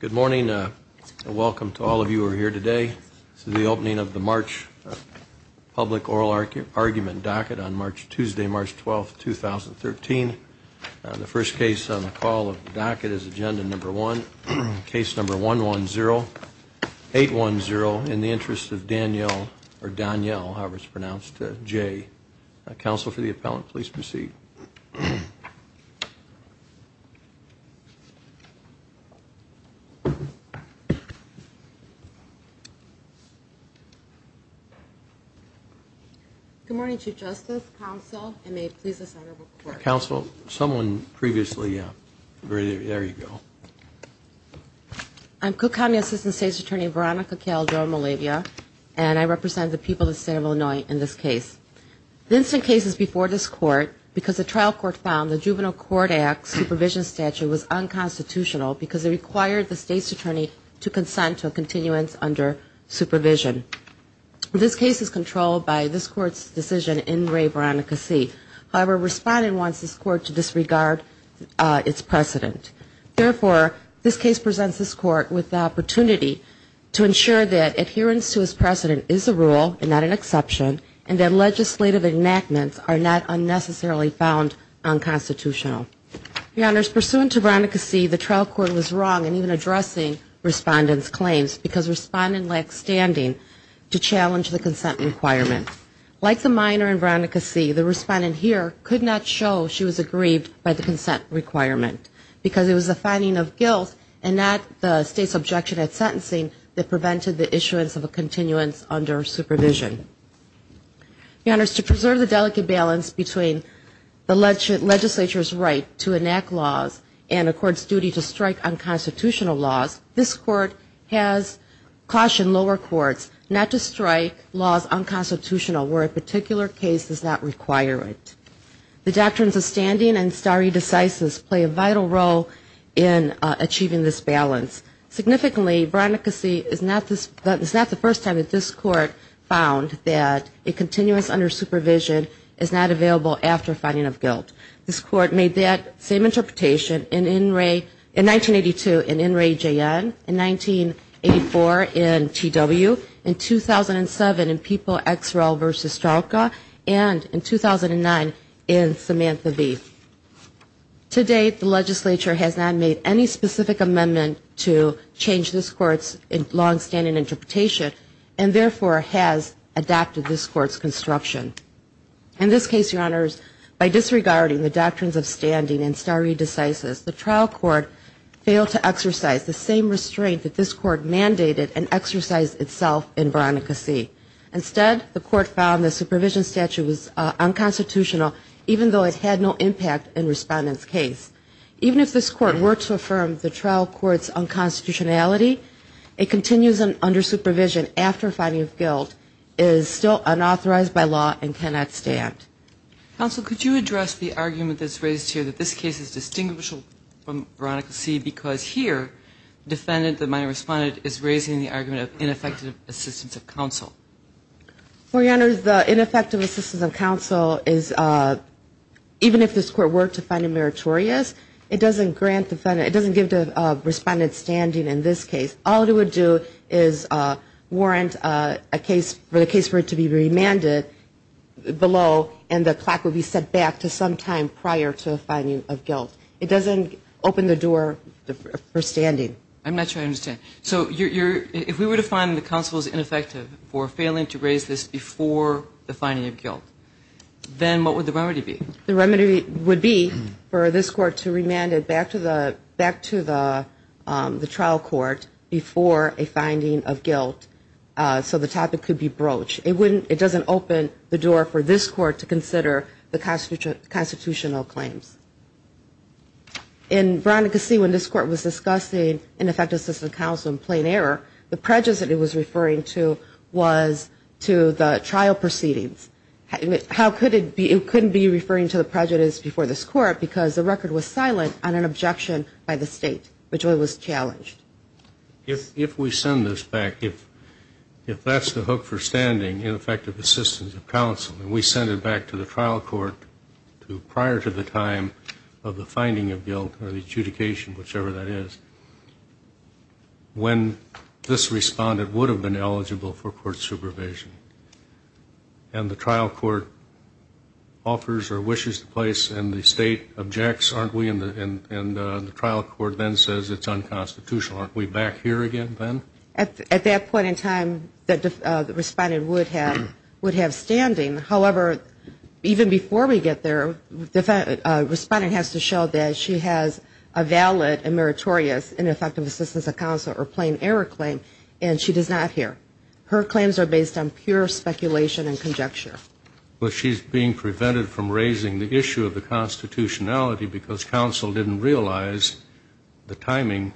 Good morning and welcome to all of you are here today. This is the opening of the March public oral argument docket on March Tuesday March 12th 2013 the first case on the call of docket is agenda number one case number one one zero Eight one zero in the interest of Danielle or Danielle. However, it's pronounced J counsel for the appellant, please proceed Good Morning to justice counsel and may it please the center for counsel someone previously. Yeah, there you go I'm cook County assistant state's attorney Veronica Calderon Malavia, and I represent the people of the state of Illinois in this case The instant cases before this court because the trial court found the Juvenile Court Act supervision statute was Unconstitutional because they required the state's attorney to consent to a continuance under supervision This case is controlled by this court's decision in Ray Veronica see however respondent wants this court to disregard its precedent Therefore this case presents this court with the opportunity To ensure that adherence to his precedent is a rule and not an exception and that legislative enactments are not unnecessarily found unconstitutional Your honors pursuant to Veronica see the trial court was wrong and even addressing Respondents claims because respondent lacks standing to challenge the consent requirement Like the minor and Veronica see the respondent here could not show she was aggrieved by the consent requirement Because it was a finding of guilt and that the state's objection at sentencing that prevented the issuance of a continuance under supervision the honors to preserve the delicate balance between The legend legislature's right to enact laws and a court's duty to strike unconstitutional laws. This court has Cautioned lower courts not to strike laws unconstitutional where a particular case does not require it The doctrines of standing and starry decisive play a vital role in Achieving this balance Significantly Veronica see is not this but it's not the first time that this court found that a continuous under supervision Is not available after finding of guilt this court made that same interpretation in in Ray in 1982 in in Ray JN in 1984 in TW in 2007 and people XRL versus Starka and in 2009 in Samantha V today the legislature has not made any specific amendment to change this court's in long-standing interpretation and therefore has Adopted this court's construction in this case your honors by disregarding the doctrines of standing and starry decisive The trial court failed to exercise the same restraint that this court mandated and exercised itself in Veronica see Instead the court found the supervision statute was Unconstitutional even though it had no impact in respondents case even if this court were to affirm the trial courts Unconstitutionality it continues an under supervision after finding of guilt is still unauthorized by law and cannot stand Also, could you address the argument that's raised here that this case is distinguishable from Veronica see because here Defendant that my respondent is raising the argument of ineffective assistance of counsel for your honors the ineffective assistance of counsel is Even if this court were to find a meritorious, it doesn't grant defendant It doesn't give the respondents standing in this case. All it would do is Warrant a case for the case for it to be remanded Below and the clock would be set back to some time prior to the finding of guilt. It doesn't open the door The first standing I'm not sure I understand So you're if we were to find the council's ineffective for failing to raise this before the finding of guilt then what would the remedy be the remedy would be for this court to remand it back to the back to the the trial court before a finding of guilt So the topic could be broach it wouldn't it doesn't open the door for this court to consider the cost future constitutional claims in Veronica see when this court was discussing ineffective system council in plain error The prejudice that it was referring to was to the trial proceedings How could it be it couldn't be referring to the prejudice before this court because the record was silent on an objection by the state? Which one was challenged? If if we send this back if if that's the hook for standing in effective assistance of counsel And we send it back to the trial court to prior to the time of the finding of guilt or the adjudication whichever that is When this respondent would have been eligible for court supervision and the trial court Offers or wishes to place and the state objects aren't we in the end and the trial court then says it's unconstitutional Aren't we back here again then at that point in time that the respondent would have would have standing however even before we get there the Respondent has to show that she has a valid and meritorious Ineffective assistance of counsel or plain error claim and she does not hear her claims are based on pure speculation and conjecture Well, she's being prevented from raising the issue of the constitutionality because counsel didn't realize the timing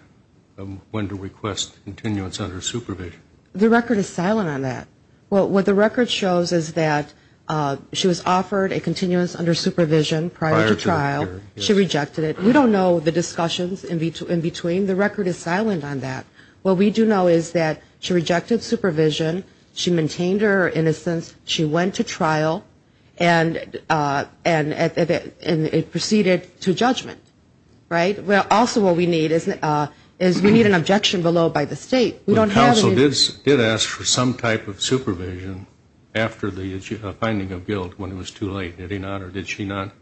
When to request continuance under supervision the record is silent on that. Well what the record shows is that? She was offered a continuance under supervision prior to trial. She rejected it We don't know the discussions in between in between the record is silent on that What we do know is that she rejected supervision she maintained her innocence she went to trial and And at that and it proceeded to judgment, right? Well, also what we need isn't as we need an objection below by the state We don't have this it asks for some type of supervision After the issue of finding of guilt when it was too late. Did he not or did she not?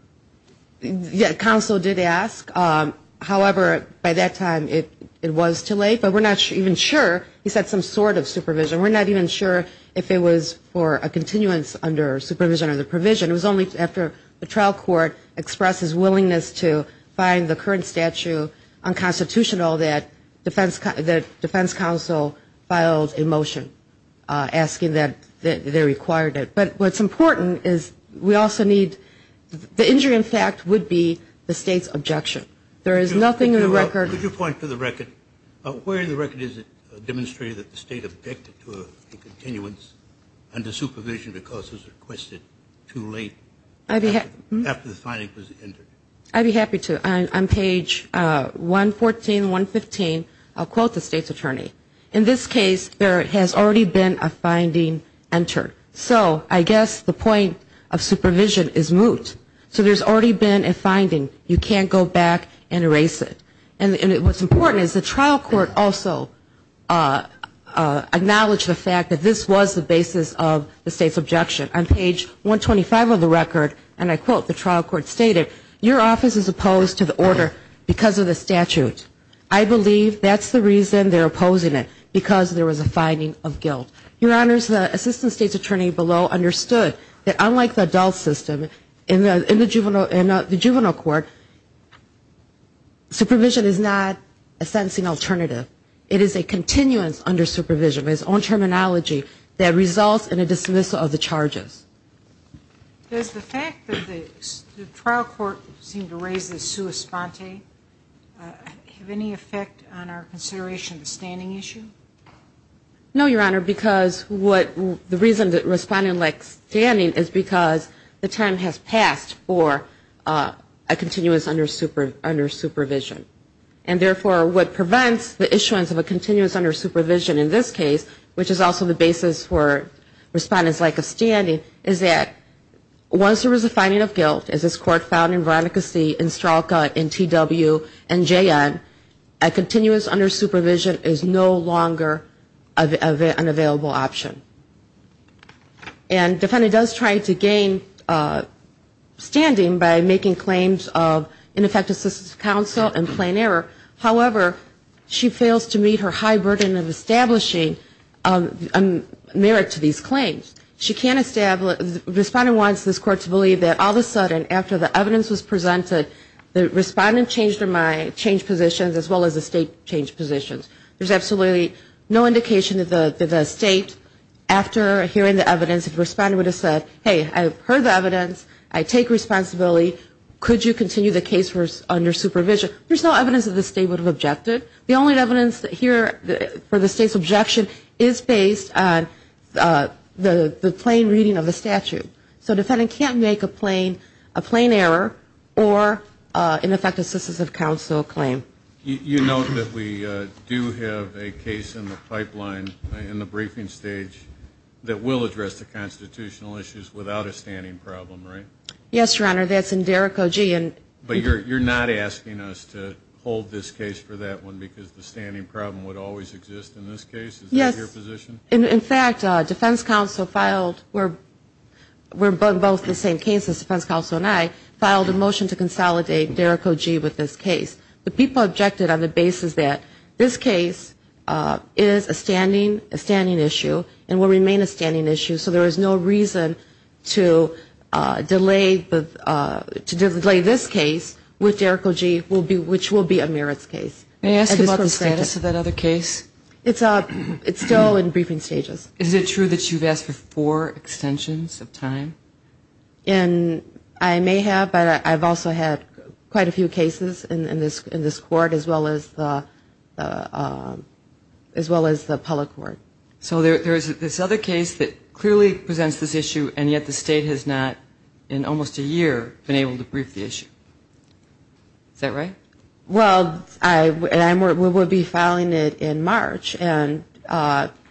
Yeah, counsel did ask However by that time it it was too late, but we're not even sure he said some sort of supervision We're not even sure if it was for a continuance under supervision or the provision It was only after the trial court expressed his willingness to find the current statute on Constitutional that defense that defense counsel filed a motion Asking that they required it. But what's important is we also need The injury in fact would be the state's objection. There is nothing in the record you point to the record Where the record is it demonstrated that the state objected to a continuance under supervision because was requested too late I'd be happy after the finding was entered. I'd be happy to on page 114 115 I'll quote the state's attorney in this case. There has already been a finding entered So I guess the point of supervision is moot So there's already been a finding you can't go back and erase it and it was important is the trial court also Acknowledged the fact that this was the basis of the state's objection on page 125 of the record and I quote the trial court stated your office is opposed to the order because of the statute I Finding of guilt your honors the assistant state's attorney below understood that unlike the adult system in the in the juvenile and the juvenile court Supervision is not a sentencing alternative. It is a continuance under supervision his own terminology that results in a dismissal of the charges There's the fact that the trial court seemed to raise the sua sponte Have any effect on our consideration the standing issue no, your honor because what the reason that responding like standing is because the time has passed for a Continuous under super under supervision and therefore what prevents the issuance of a continuous under supervision in this case which is also the basis for respondents like a standing is that once there was a finding of guilt as this court found in Veronica see in Stralka in TW and JN a Available option and Defendant does try to gain Standing by making claims of ineffective assistance counsel and plain error. However, she fails to meet her high burden of establishing Merit to these claims she can't establish Responding wants this court to believe that all of a sudden after the evidence was presented The respondent changed her mind changed positions as well as the state changed positions There's absolutely no indication that the state After hearing the evidence if respondent would have said hey, I've heard the evidence I take responsibility Could you continue the case for under supervision? There's no evidence that the state would have objected The only evidence that here for the state's objection is based on the the plain reading of the statute so defendant can't make a plain a plain error or In effect assistance of counsel claim, you know that we do have a case in the pipeline in the briefing stage That will address the constitutional issues without a standing problem, right? Yes, your honor That's in Derek OG and but you're you're not asking us to hold this case for that one because the standing problem would always exist In this case. Yes your position. In fact defense counsel filed. We're Both the same cases defense counsel and I filed a motion to consolidate Derek OG with this case The people objected on the basis that this case Is a standing a standing issue and will remain a standing issue. So there is no reason to delay the To delay this case with Derek OG will be which will be a merits case They ask about the status of that other case. It's up. It's still in briefing stages Is it true that you've asked for four extensions of time and I may have but I've also had quite a few cases in this in this court as well as As well as the public work So there's this other case that clearly presents this issue and yet the state has not in Almost a year been able to brief the issue Is that right? Well, I and I'm we will be filing it in March and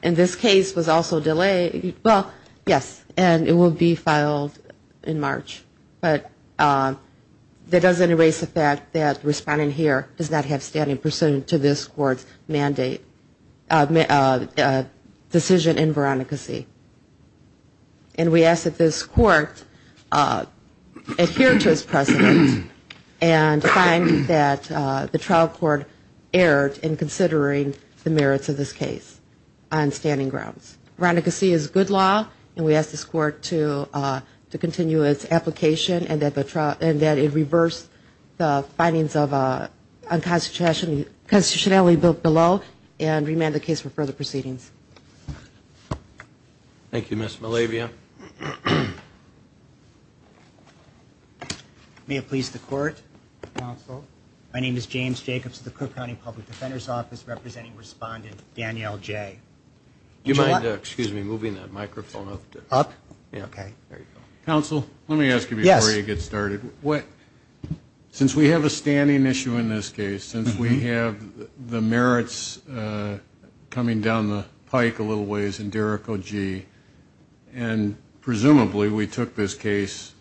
In this case was also delayed. Well, yes, and it will be filed in March, but That doesn't erase the fact that responding here does not have standing pursuant to this court's mandate Decision in Veronica see and we asked that this court Adhere to his president and Find that the trial court erred in considering the merits of this case On standing grounds Veronica see is good law and we asked this court to to continue its application and that the trial and that it reversed the findings of a Constitutionally constitutionally built below and remand the case for further proceedings Thank You miss Malavia May it please the court My name is James Jacobs the Cook County Public Defender's Office representing respondent Danielle Jay You might excuse me moving that microphone up up. Okay, council. Let me ask you before you get started what? Since we have a standing issue in this case since we have the merits coming down the pike a little ways in Derek OG and Presumably we took this case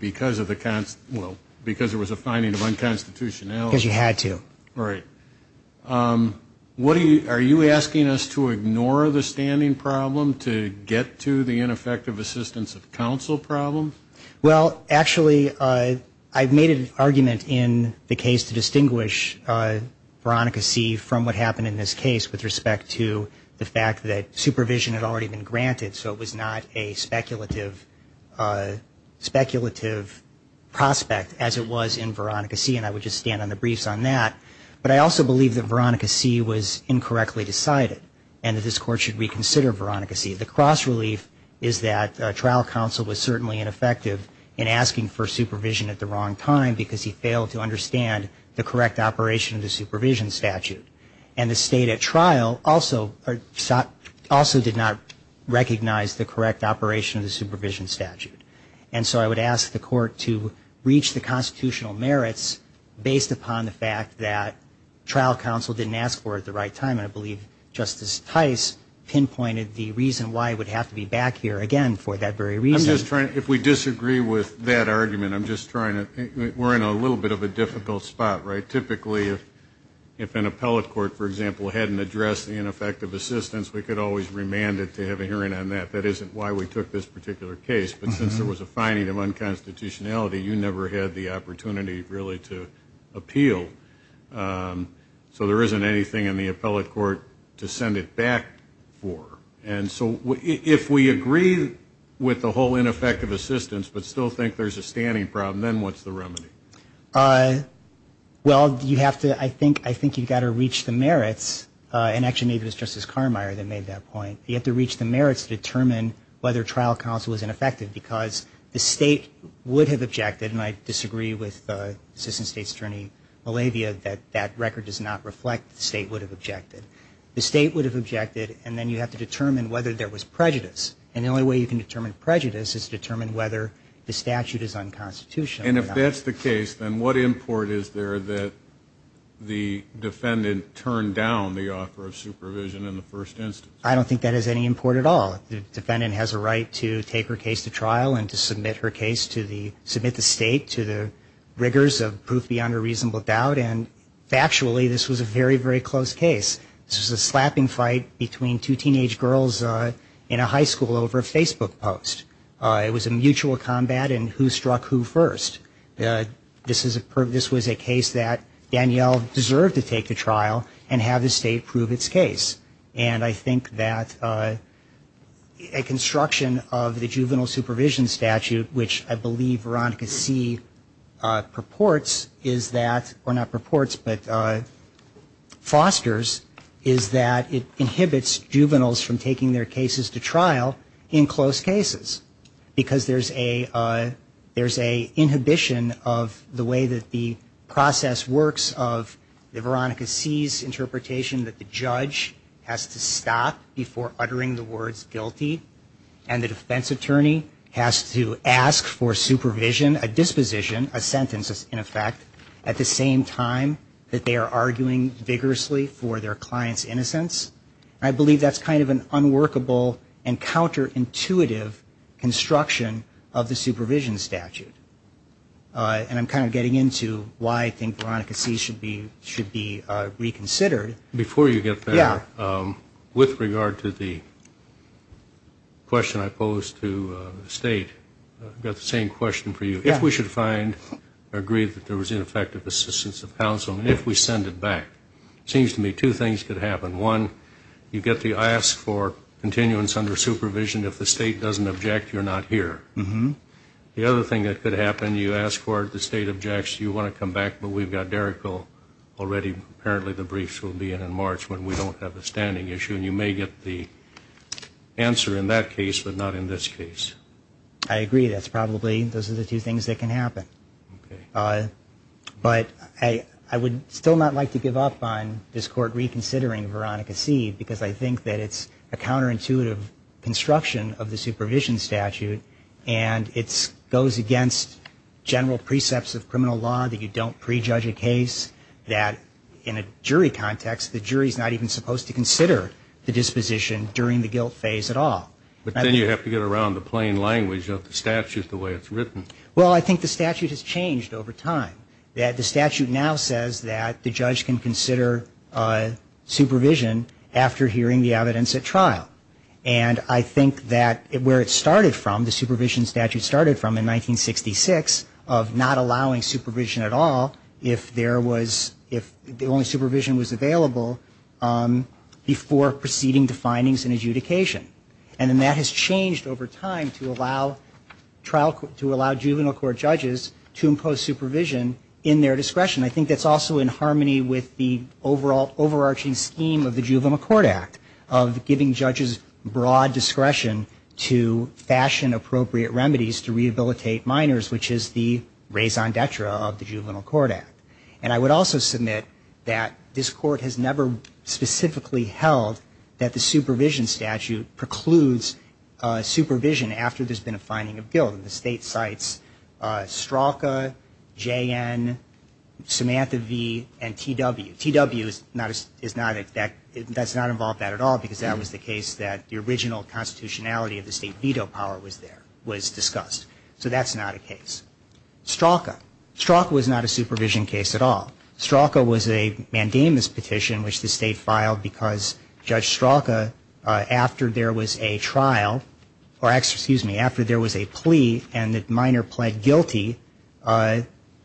Because of the cons well because there was a finding of unconstitutionality you had to right What are you are you asking us to ignore the standing problem to get to the ineffective assistance of counsel problem? Well, actually, I I've made an argument in the case to distinguish Veronica see from what happened in this case with respect to the fact that supervision had already been granted. So it was not a speculative Speculative Prospect as it was in Veronica see and I would just stand on the briefs on that But I also believe that Veronica see was incorrectly decided and that this court should reconsider Veronica See the cross-relief is that trial counsel was certainly ineffective in asking for supervision at the wrong time because he failed to understand The correct operation of the supervision statute and the state at trial also are shot also did not Recognize the correct operation of the supervision statute and so I would ask the court to reach the constitutional merits Based upon the fact that trial counsel didn't ask for at the right time. I believe justice Tice Pinpointed the reason why I would have to be back here again for that very reason is trying if we disagree with that argument I'm just trying to think we're in a little bit of a difficult spot, right? On that that isn't why we took this particular case, but since there was a finding of unconstitutionality you never had the opportunity really to appeal So there isn't anything in the appellate court to send it back for and so if we agree With the whole ineffective assistance, but still think there's a standing problem. Then what's the remedy? Well, you have to I think I think you've got to reach the merits Inaction, maybe it was justice Carmier that made that point You have to reach the merits to determine whether trial counsel is ineffective because the state would have objected and I disagree with Assistant State's attorney Malavia that that record does not reflect the state would have objected The state would have objected and then you have to determine whether there was prejudice and the only way you can determine Prejudice is to determine whether the statute is unconstitutional and if that's the case then what import is there that? The Defendant turned down the offer of supervision in the first instance I don't think that is any import at all the defendant has a right to take her case to trial and to submit her case to the submit the state to the rigors of proof beyond a reasonable doubt and Factually, this was a very very close case This is a slapping fight between two teenage girls in a high school over a Facebook post It was a mutual combat and who struck who first This is a purpose was a case that Danielle deserved to take the trial and have the state prove its case and I think that a construction of the juvenile supervision statute, which I believe Veronica see purports is that or not purports, but Fosters is that it inhibits juveniles from taking their cases to trial in close cases because there's a Inhibition of the way that the process works of the Veronica sees interpretation that the judge has to stop before uttering the words guilty and the defense attorney has to ask for Supervision a disposition a sentence in effect at the same time that they are arguing vigorously for their clients innocence I believe that's kind of an unworkable and counterintuitive Construction of the supervision statute And I'm kind of getting into why I think Veronica see should be should be reconsidered before you get there with regard to the Question I posed to the state Got the same question for you if we should find Agreed that there was ineffective assistance of counsel and if we send it back Seems to me two things could happen one you get the ask for Continuance under supervision if the state doesn't object you're not here. Mm-hmm The other thing that could happen you ask for it the state objects you want to come back, but we've got Derek Oh already. Apparently the briefs will be in in March when we don't have a standing issue and you may get the Answer in that case, but not in this case. I agree. That's probably those are the two things that can happen But I I would still not like to give up on this court reconsidering Veronica seed because I think that it's a counterintuitive construction of the supervision statute and it's goes against General precepts of criminal law that you don't prejudge a case that in a jury context The jury is not even supposed to consider the disposition during the guilt phase at all But then you have to get around the plain language of the statutes the way it's written Well, I think the statute has changed over time that the statute now says that the judge can consider Supervision after hearing the evidence at trial and I think that it where it started from the supervision statute started from in 1966 of not allowing supervision at all if there was if the only supervision was available Before proceeding to findings and adjudication and then that has changed over time to allow Trial court to allow juvenile court judges to impose supervision in their discretion I think that's also in harmony with the overall overarching scheme of the juvenile court act of giving judges broad discretion to fashion appropriate remedies to rehabilitate minors Which is the raison d'etre of the juvenile court act and I would also submit that this court has never specifically held that the supervision statute precludes Supervision after there's been a finding of guilt in the state sites Straka JN Samantha V and TW TW is not as is not it that it does not involve that at all because that was the case that the Original constitutionality of the state veto power was there was discussed. So that's not a case Straka Straka was not a supervision case at all. Straka was a mandamus petition Which the state filed because judge Straka After there was a trial or excuse me after there was a plea and that minor pled guilty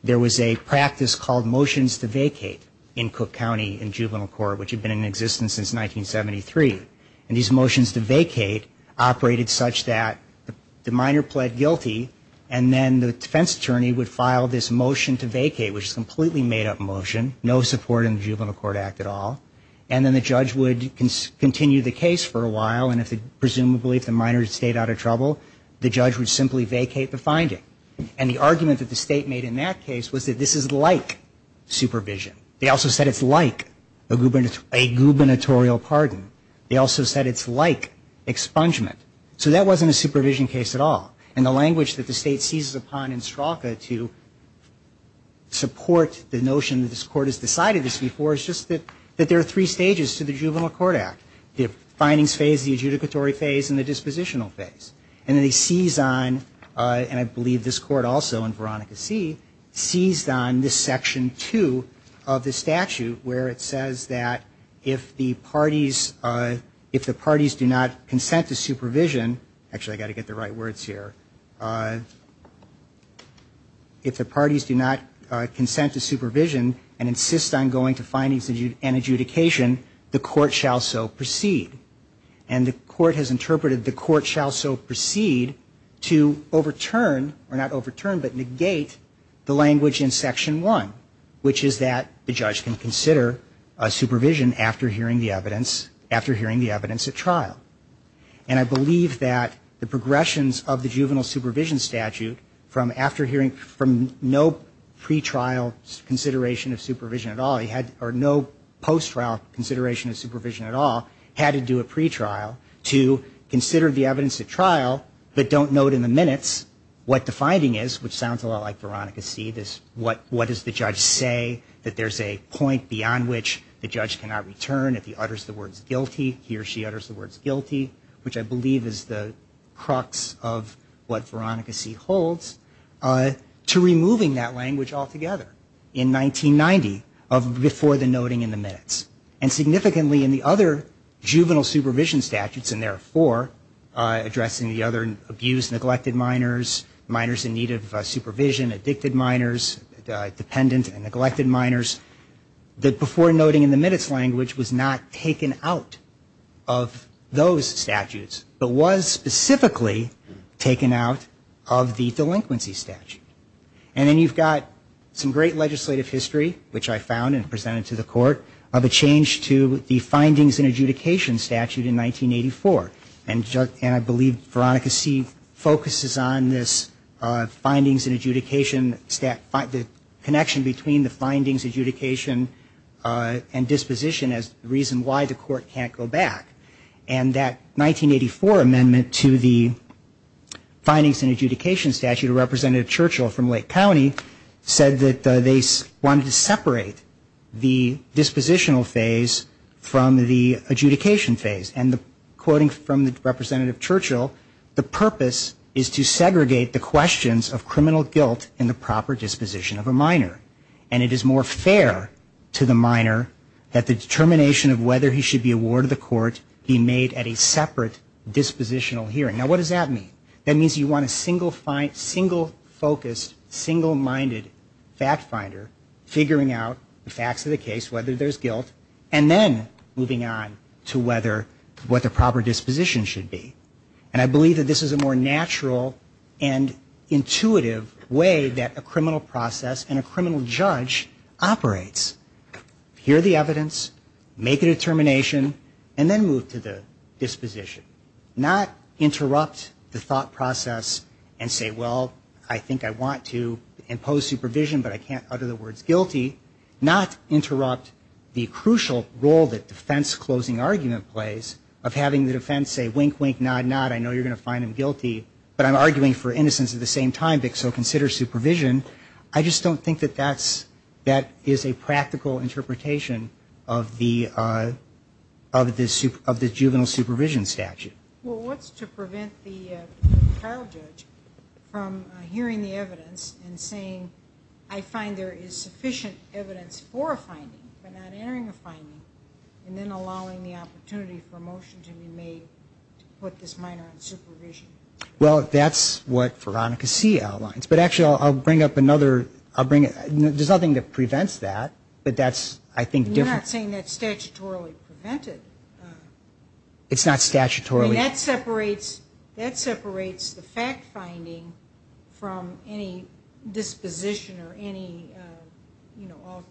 There was a practice called motions to vacate in Cook County in juvenile court, which had been in existence since 1973 and these motions to vacate operated such that The minor pled guilty and then the defense attorney would file this motion to vacate which is completely made-up motion No support in the juvenile court act at all And then the judge would continue the case for a while And if the presumably if the minors stayed out of trouble The judge would simply vacate the finding and the argument that the state made in that case was that this is like Supervision. They also said it's like a gubernatorial pardon. They also said it's like expungement, so that wasn't a supervision case at all and the language that the state seizes upon in Straka to Support the notion that this court has decided this before is just that that there are three stages to the juvenile court act the Findings phase the adjudicatory phase and the dispositional phase and then they seize on And I believe this court also in Veronica see seized on this section two of the statute where it says that If the parties if the parties do not consent to supervision Actually, I got to get the right words here If the parties do not consent to supervision and insist on going to findings and adjudication the court shall so proceed and the court has interpreted the court shall so proceed to Overturn or not overturn but negate the language in section one Which is that the judge can consider a supervision after hearing the evidence after hearing the evidence at trial And I believe that the progressions of the juvenile supervision statute from after hearing from no pretrial consideration of supervision at all He had or no post trial consideration of supervision at all had to do a pretrial to consider the evidence at trial But don't note in the minutes what the finding is which sounds a lot like Veronica see this What what does the judge say that there's a point beyond which the judge cannot return if he utters the words guilty? He or she utters the words guilty, which I believe is the crux of what Veronica see holds to removing that language altogether in 1990 of before the noting in the minutes and significantly in the other juvenile supervision statutes and therefore Addressing the other abuse neglected minors minors in need of supervision addicted minors dependent and neglected minors That before noting in the minutes language was not taken out of those statutes But was specifically taken out of the delinquency statute and then you've got some great legislative history which I found and presented to the court of a change to the findings and adjudication statute in 1984 and And I believe Veronica see focuses on this Findings and adjudication step by the connection between the findings adjudication and disposition as reason why the court can't go back and that 1984 amendment to the findings and adjudication statute a representative Churchill from Lake County said that they wanted to separate the dispositional phase from the adjudication phase and the quoting from the Representative Churchill the purpose is to segregate the questions of criminal guilt in the proper disposition of a minor and it is more fair To the minor that the determination of whether he should be awarded the court. He made at a separate Dispositional hearing now, what does that mean? That means you want a single fine single focused single minded fact finder Figuring out the facts of the case whether there's guilt and then moving on to whether what the proper disposition should be and I believe that this is a more natural and Intuitive way that a criminal process and a criminal judge operates Hear the evidence make a determination and then move to the disposition not Interrupt the thought process and say well, I think I want to impose supervision But I can't utter the words guilty not interrupt the crucial role that defense closing argument plays of having the defense Say wink wink nod nod. I know you're gonna find him guilty, but I'm arguing for innocence at the same time dick So consider supervision. I just don't think that that's that is a practical interpretation of the Of the soup of the juvenile supervision statute. Well, what's to prevent the From hearing the evidence and saying I find there is sufficient evidence for a finding And then allowing the opportunity for a motion to be made Put this minor in supervision Well, that's what Veronica see outlines, but actually I'll bring up another I'll bring it There's nothing that prevents that but that's I think different saying that's statutorily prevented It's not statutorily that separates that separates the fact finding from any disposition or any You know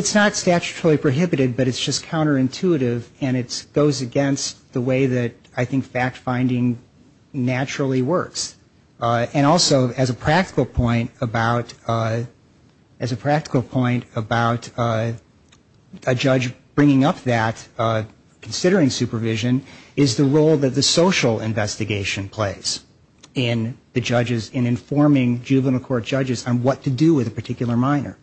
It's not statutorily prohibited, but it's just counterintuitive and it's goes against the way that I think fact-finding naturally works and also as a practical point about as a practical point about a judge bringing up that considering supervision is the role that the social investigation plays in The judges in informing juvenile court judges on what to do with a particular minor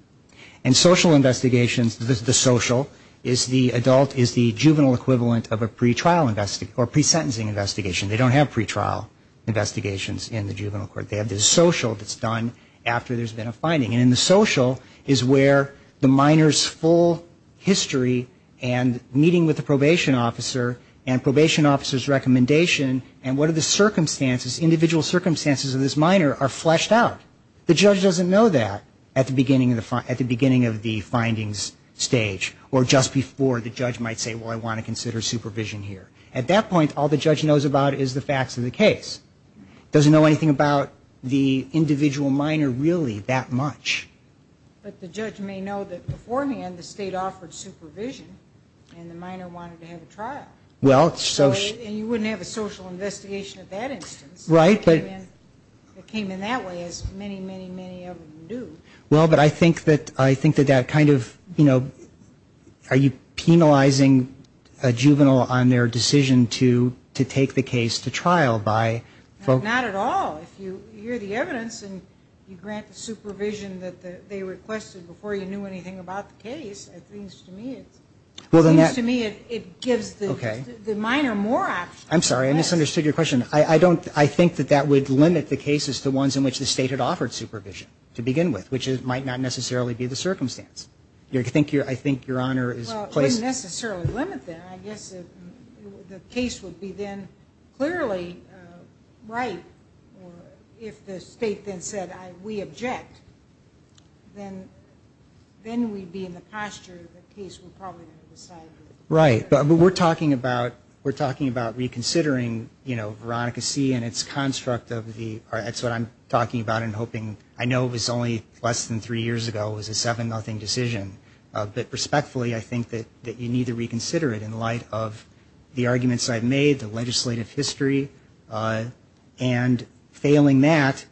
and social investigations This is the social is the adult is the juvenile equivalent of a pretrial invest or pre sentencing investigation. They don't have pretrial Investigations in the juvenile court. They have this social that's done after there's been a finding in the social is where the minors full history and Meeting with the probation officer and probation officers recommendation and what are the circumstances individual circumstances of this minor are fleshed out The judge doesn't know that at the beginning of the front at the beginning of the findings Stage or just before the judge might say well I want to consider supervision here at that point all the judge knows about is the facts of the case Doesn't know anything about the individual minor really that much But the judge may know that beforehand the state offered supervision and the minor wanted to have a trial well It's so and you wouldn't have a social investigation at that instance, right? But it came in that way as many many many of them do well But I think that I think that that kind of you know Are you penalizing a juvenile on their decision to to take the case to trial by? Not at all if you hear the evidence and you grant the supervision that they requested before you knew anything about the case Well, then that to me it gives the okay the minor more, I'm sorry, I misunderstood your question I I don't I think that that would limit the cases to ones in which the state had offered supervision to begin with which it might Not necessarily be the circumstance. You're to think you're I think your honor is Case would be then clearly right If the state then said I we object then Then we'd be in the posture Right, but we're talking about we're talking about reconsidering, you know Veronica see and its construct of the that's what I'm talking about and hoping I know it was only less than three years ago It was a seven nothing decision But respectfully, I think that that you need to reconsider it in light of the arguments. I've made the legislative history and failing that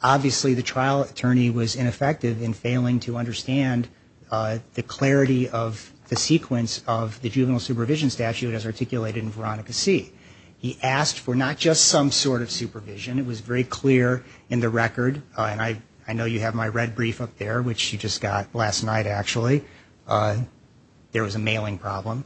Obviously the trial attorney was ineffective in failing to understand The clarity of the sequence of the juvenile supervision statute as articulated in Veronica see he asked for not just some sort of Supervision it was very clear in the record and I I know you have my red brief up there Which you just got last night actually There was a mailing problem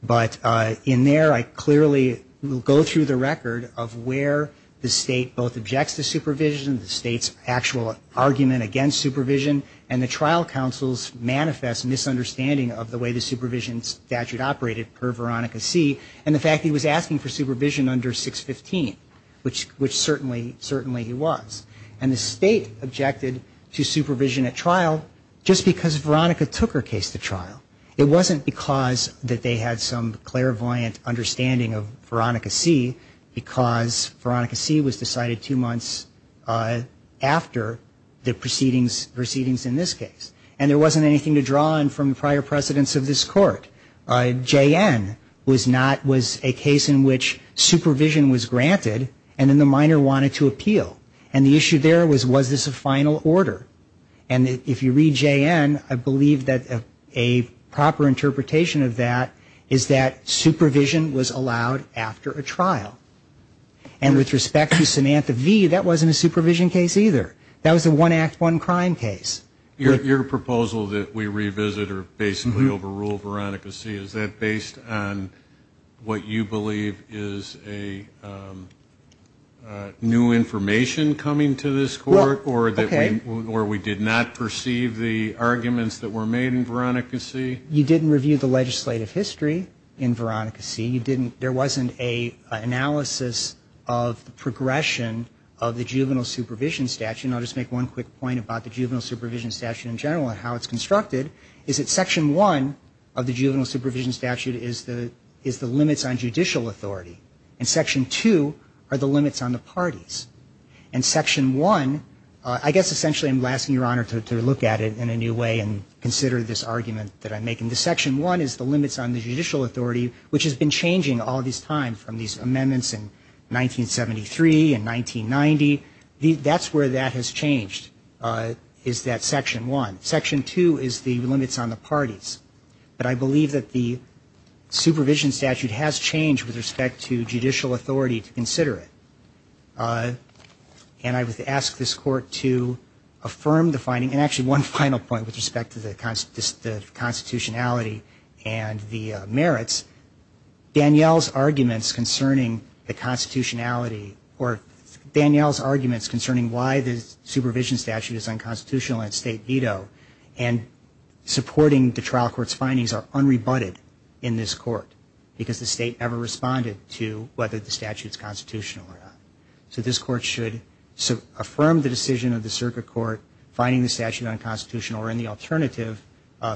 But in there I clearly will go through the record of where the state both objects to supervision the state's actual argument against supervision and the trial counsel's Manifest misunderstanding of the way the supervision statute operated per Veronica see and the fact he was asking for supervision under 615 Which which certainly certainly he was and the state objected to supervision at trial Just because Veronica took her case to trial it wasn't because that they had some clairvoyant understanding of Veronica see Because Veronica see was decided two months After the proceedings proceedings in this case and there wasn't anything to draw on from the prior precedents of this court JN was not was a case in which supervision was granted and then the minor wanted to appeal and the issue there was was this a final order and if you read JN I believe that a proper interpretation of that is that supervision was allowed after a trial and With respect to Samantha V. That wasn't a supervision case either. That was the one act one crime case Your proposal that we revisit or basically overrule Veronica see is that based on? what you believe is a New information coming to this court or that we or we did not perceive the Arguments that were made in Veronica see you didn't review the legislative history in Veronica. See you didn't there wasn't a analysis of Progression of the juvenile supervision statute I'll just make one quick point about the juvenile supervision statute in general and how it's constructed is it section one of the juvenile supervision statute is the is the limits on judicial authority and section two are the limits on the parties and Section one I guess essentially I'm lasting your honor to look at it in a new way and consider this argument that I'm making the Section one is the limits on the judicial authority, which has been changing all this time from these amendments in 1973 and 1990 the that's where that has changed Is that section one section two is the limits on the parties? But I believe that the Supervision statute has changed with respect to judicial authority to consider it And I would ask this court to affirm the finding and actually one final point with respect to the constitutionality and the merits Danielle's arguments concerning the constitutionality or Danielle's arguments concerning why the supervision statute is unconstitutional and state veto and Supporting the trial courts findings are unrebutted in this court because the state ever responded to whether the statute is constitutional or not So this court should so affirm the decision of the circuit court finding the statute unconstitutional or in the alternative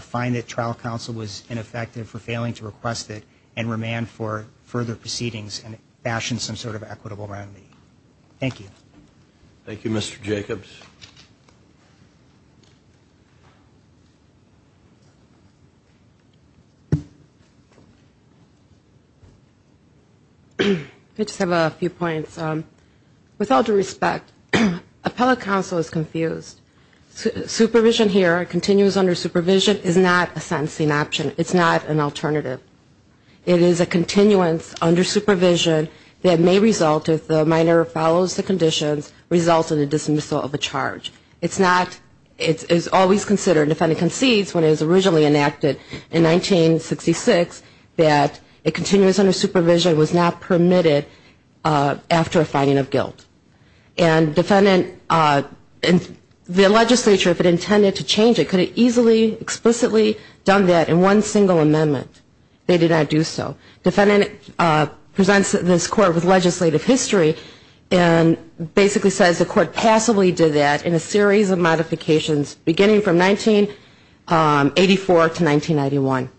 Find that trial counsel was ineffective for failing to request it and remand for further proceedings and fashion some sort of equitable remedy Thank you Thank You mr. Jacobs I Just have a few points with all due respect Appellate counsel is confused Supervision here continues under supervision is not a sentencing option. It's not an alternative It is a continuance under supervision that may result if the minor follows the conditions Results in the dismissal of a charge. It's not it is always considered if any concedes when it was originally enacted in 1966 that it continues under supervision was not permitted after a finding of guilt and defendant And the legislature if it intended to change it could have easily explicitly done that in one single amendment They did not do so defendant presents this court with legislative history and Basically says the court passively did that in a series of modifications beginning from 1984 to 1991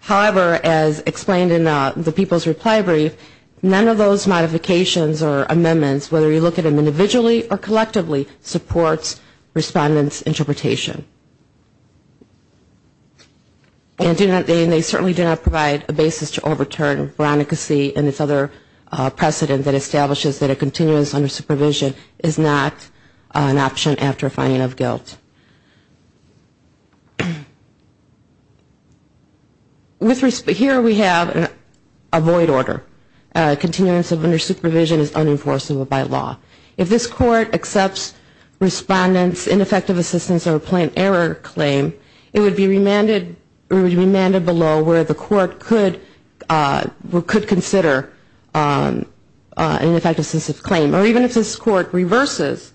However as explained in the people's reply brief none of those modifications or amendments whether you look at them individually or collectively supports respondents interpretation And do not they certainly do not provide a basis to overturn Veronicacy and it's other precedent that establishes that a continuance under supervision is not an option after a finding of guilt With respect here we have an avoid order Continuance of under supervision is unenforceable by law if this court accepts Respondents ineffective assistance or a plain error claim it would be remanded or remanded below where the court could We could consider An effective system claim or even if this court reverses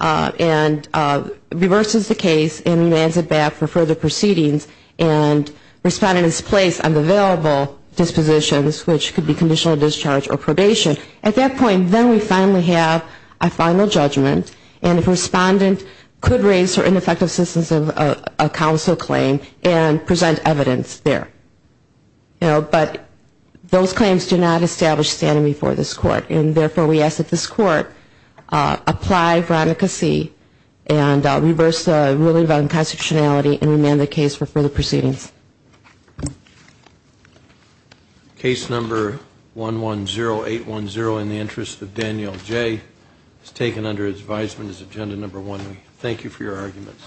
and reverses the case and lands it back for further proceedings and Respondents place on the available Dispositions which could be conditional discharge or probation at that point then we finally have a final judgment And if respondent could raise her ineffective assistance of a council claim and present evidence there You know, but those claims do not establish standing before this court and therefore we ask that this court apply veronicacy and Reverse the ruling about unconstitutionality and remand the case for further proceedings Case number 110810 in the interest of Danielle Jay has taken under advisement is agenda number one. We thank you for your arguments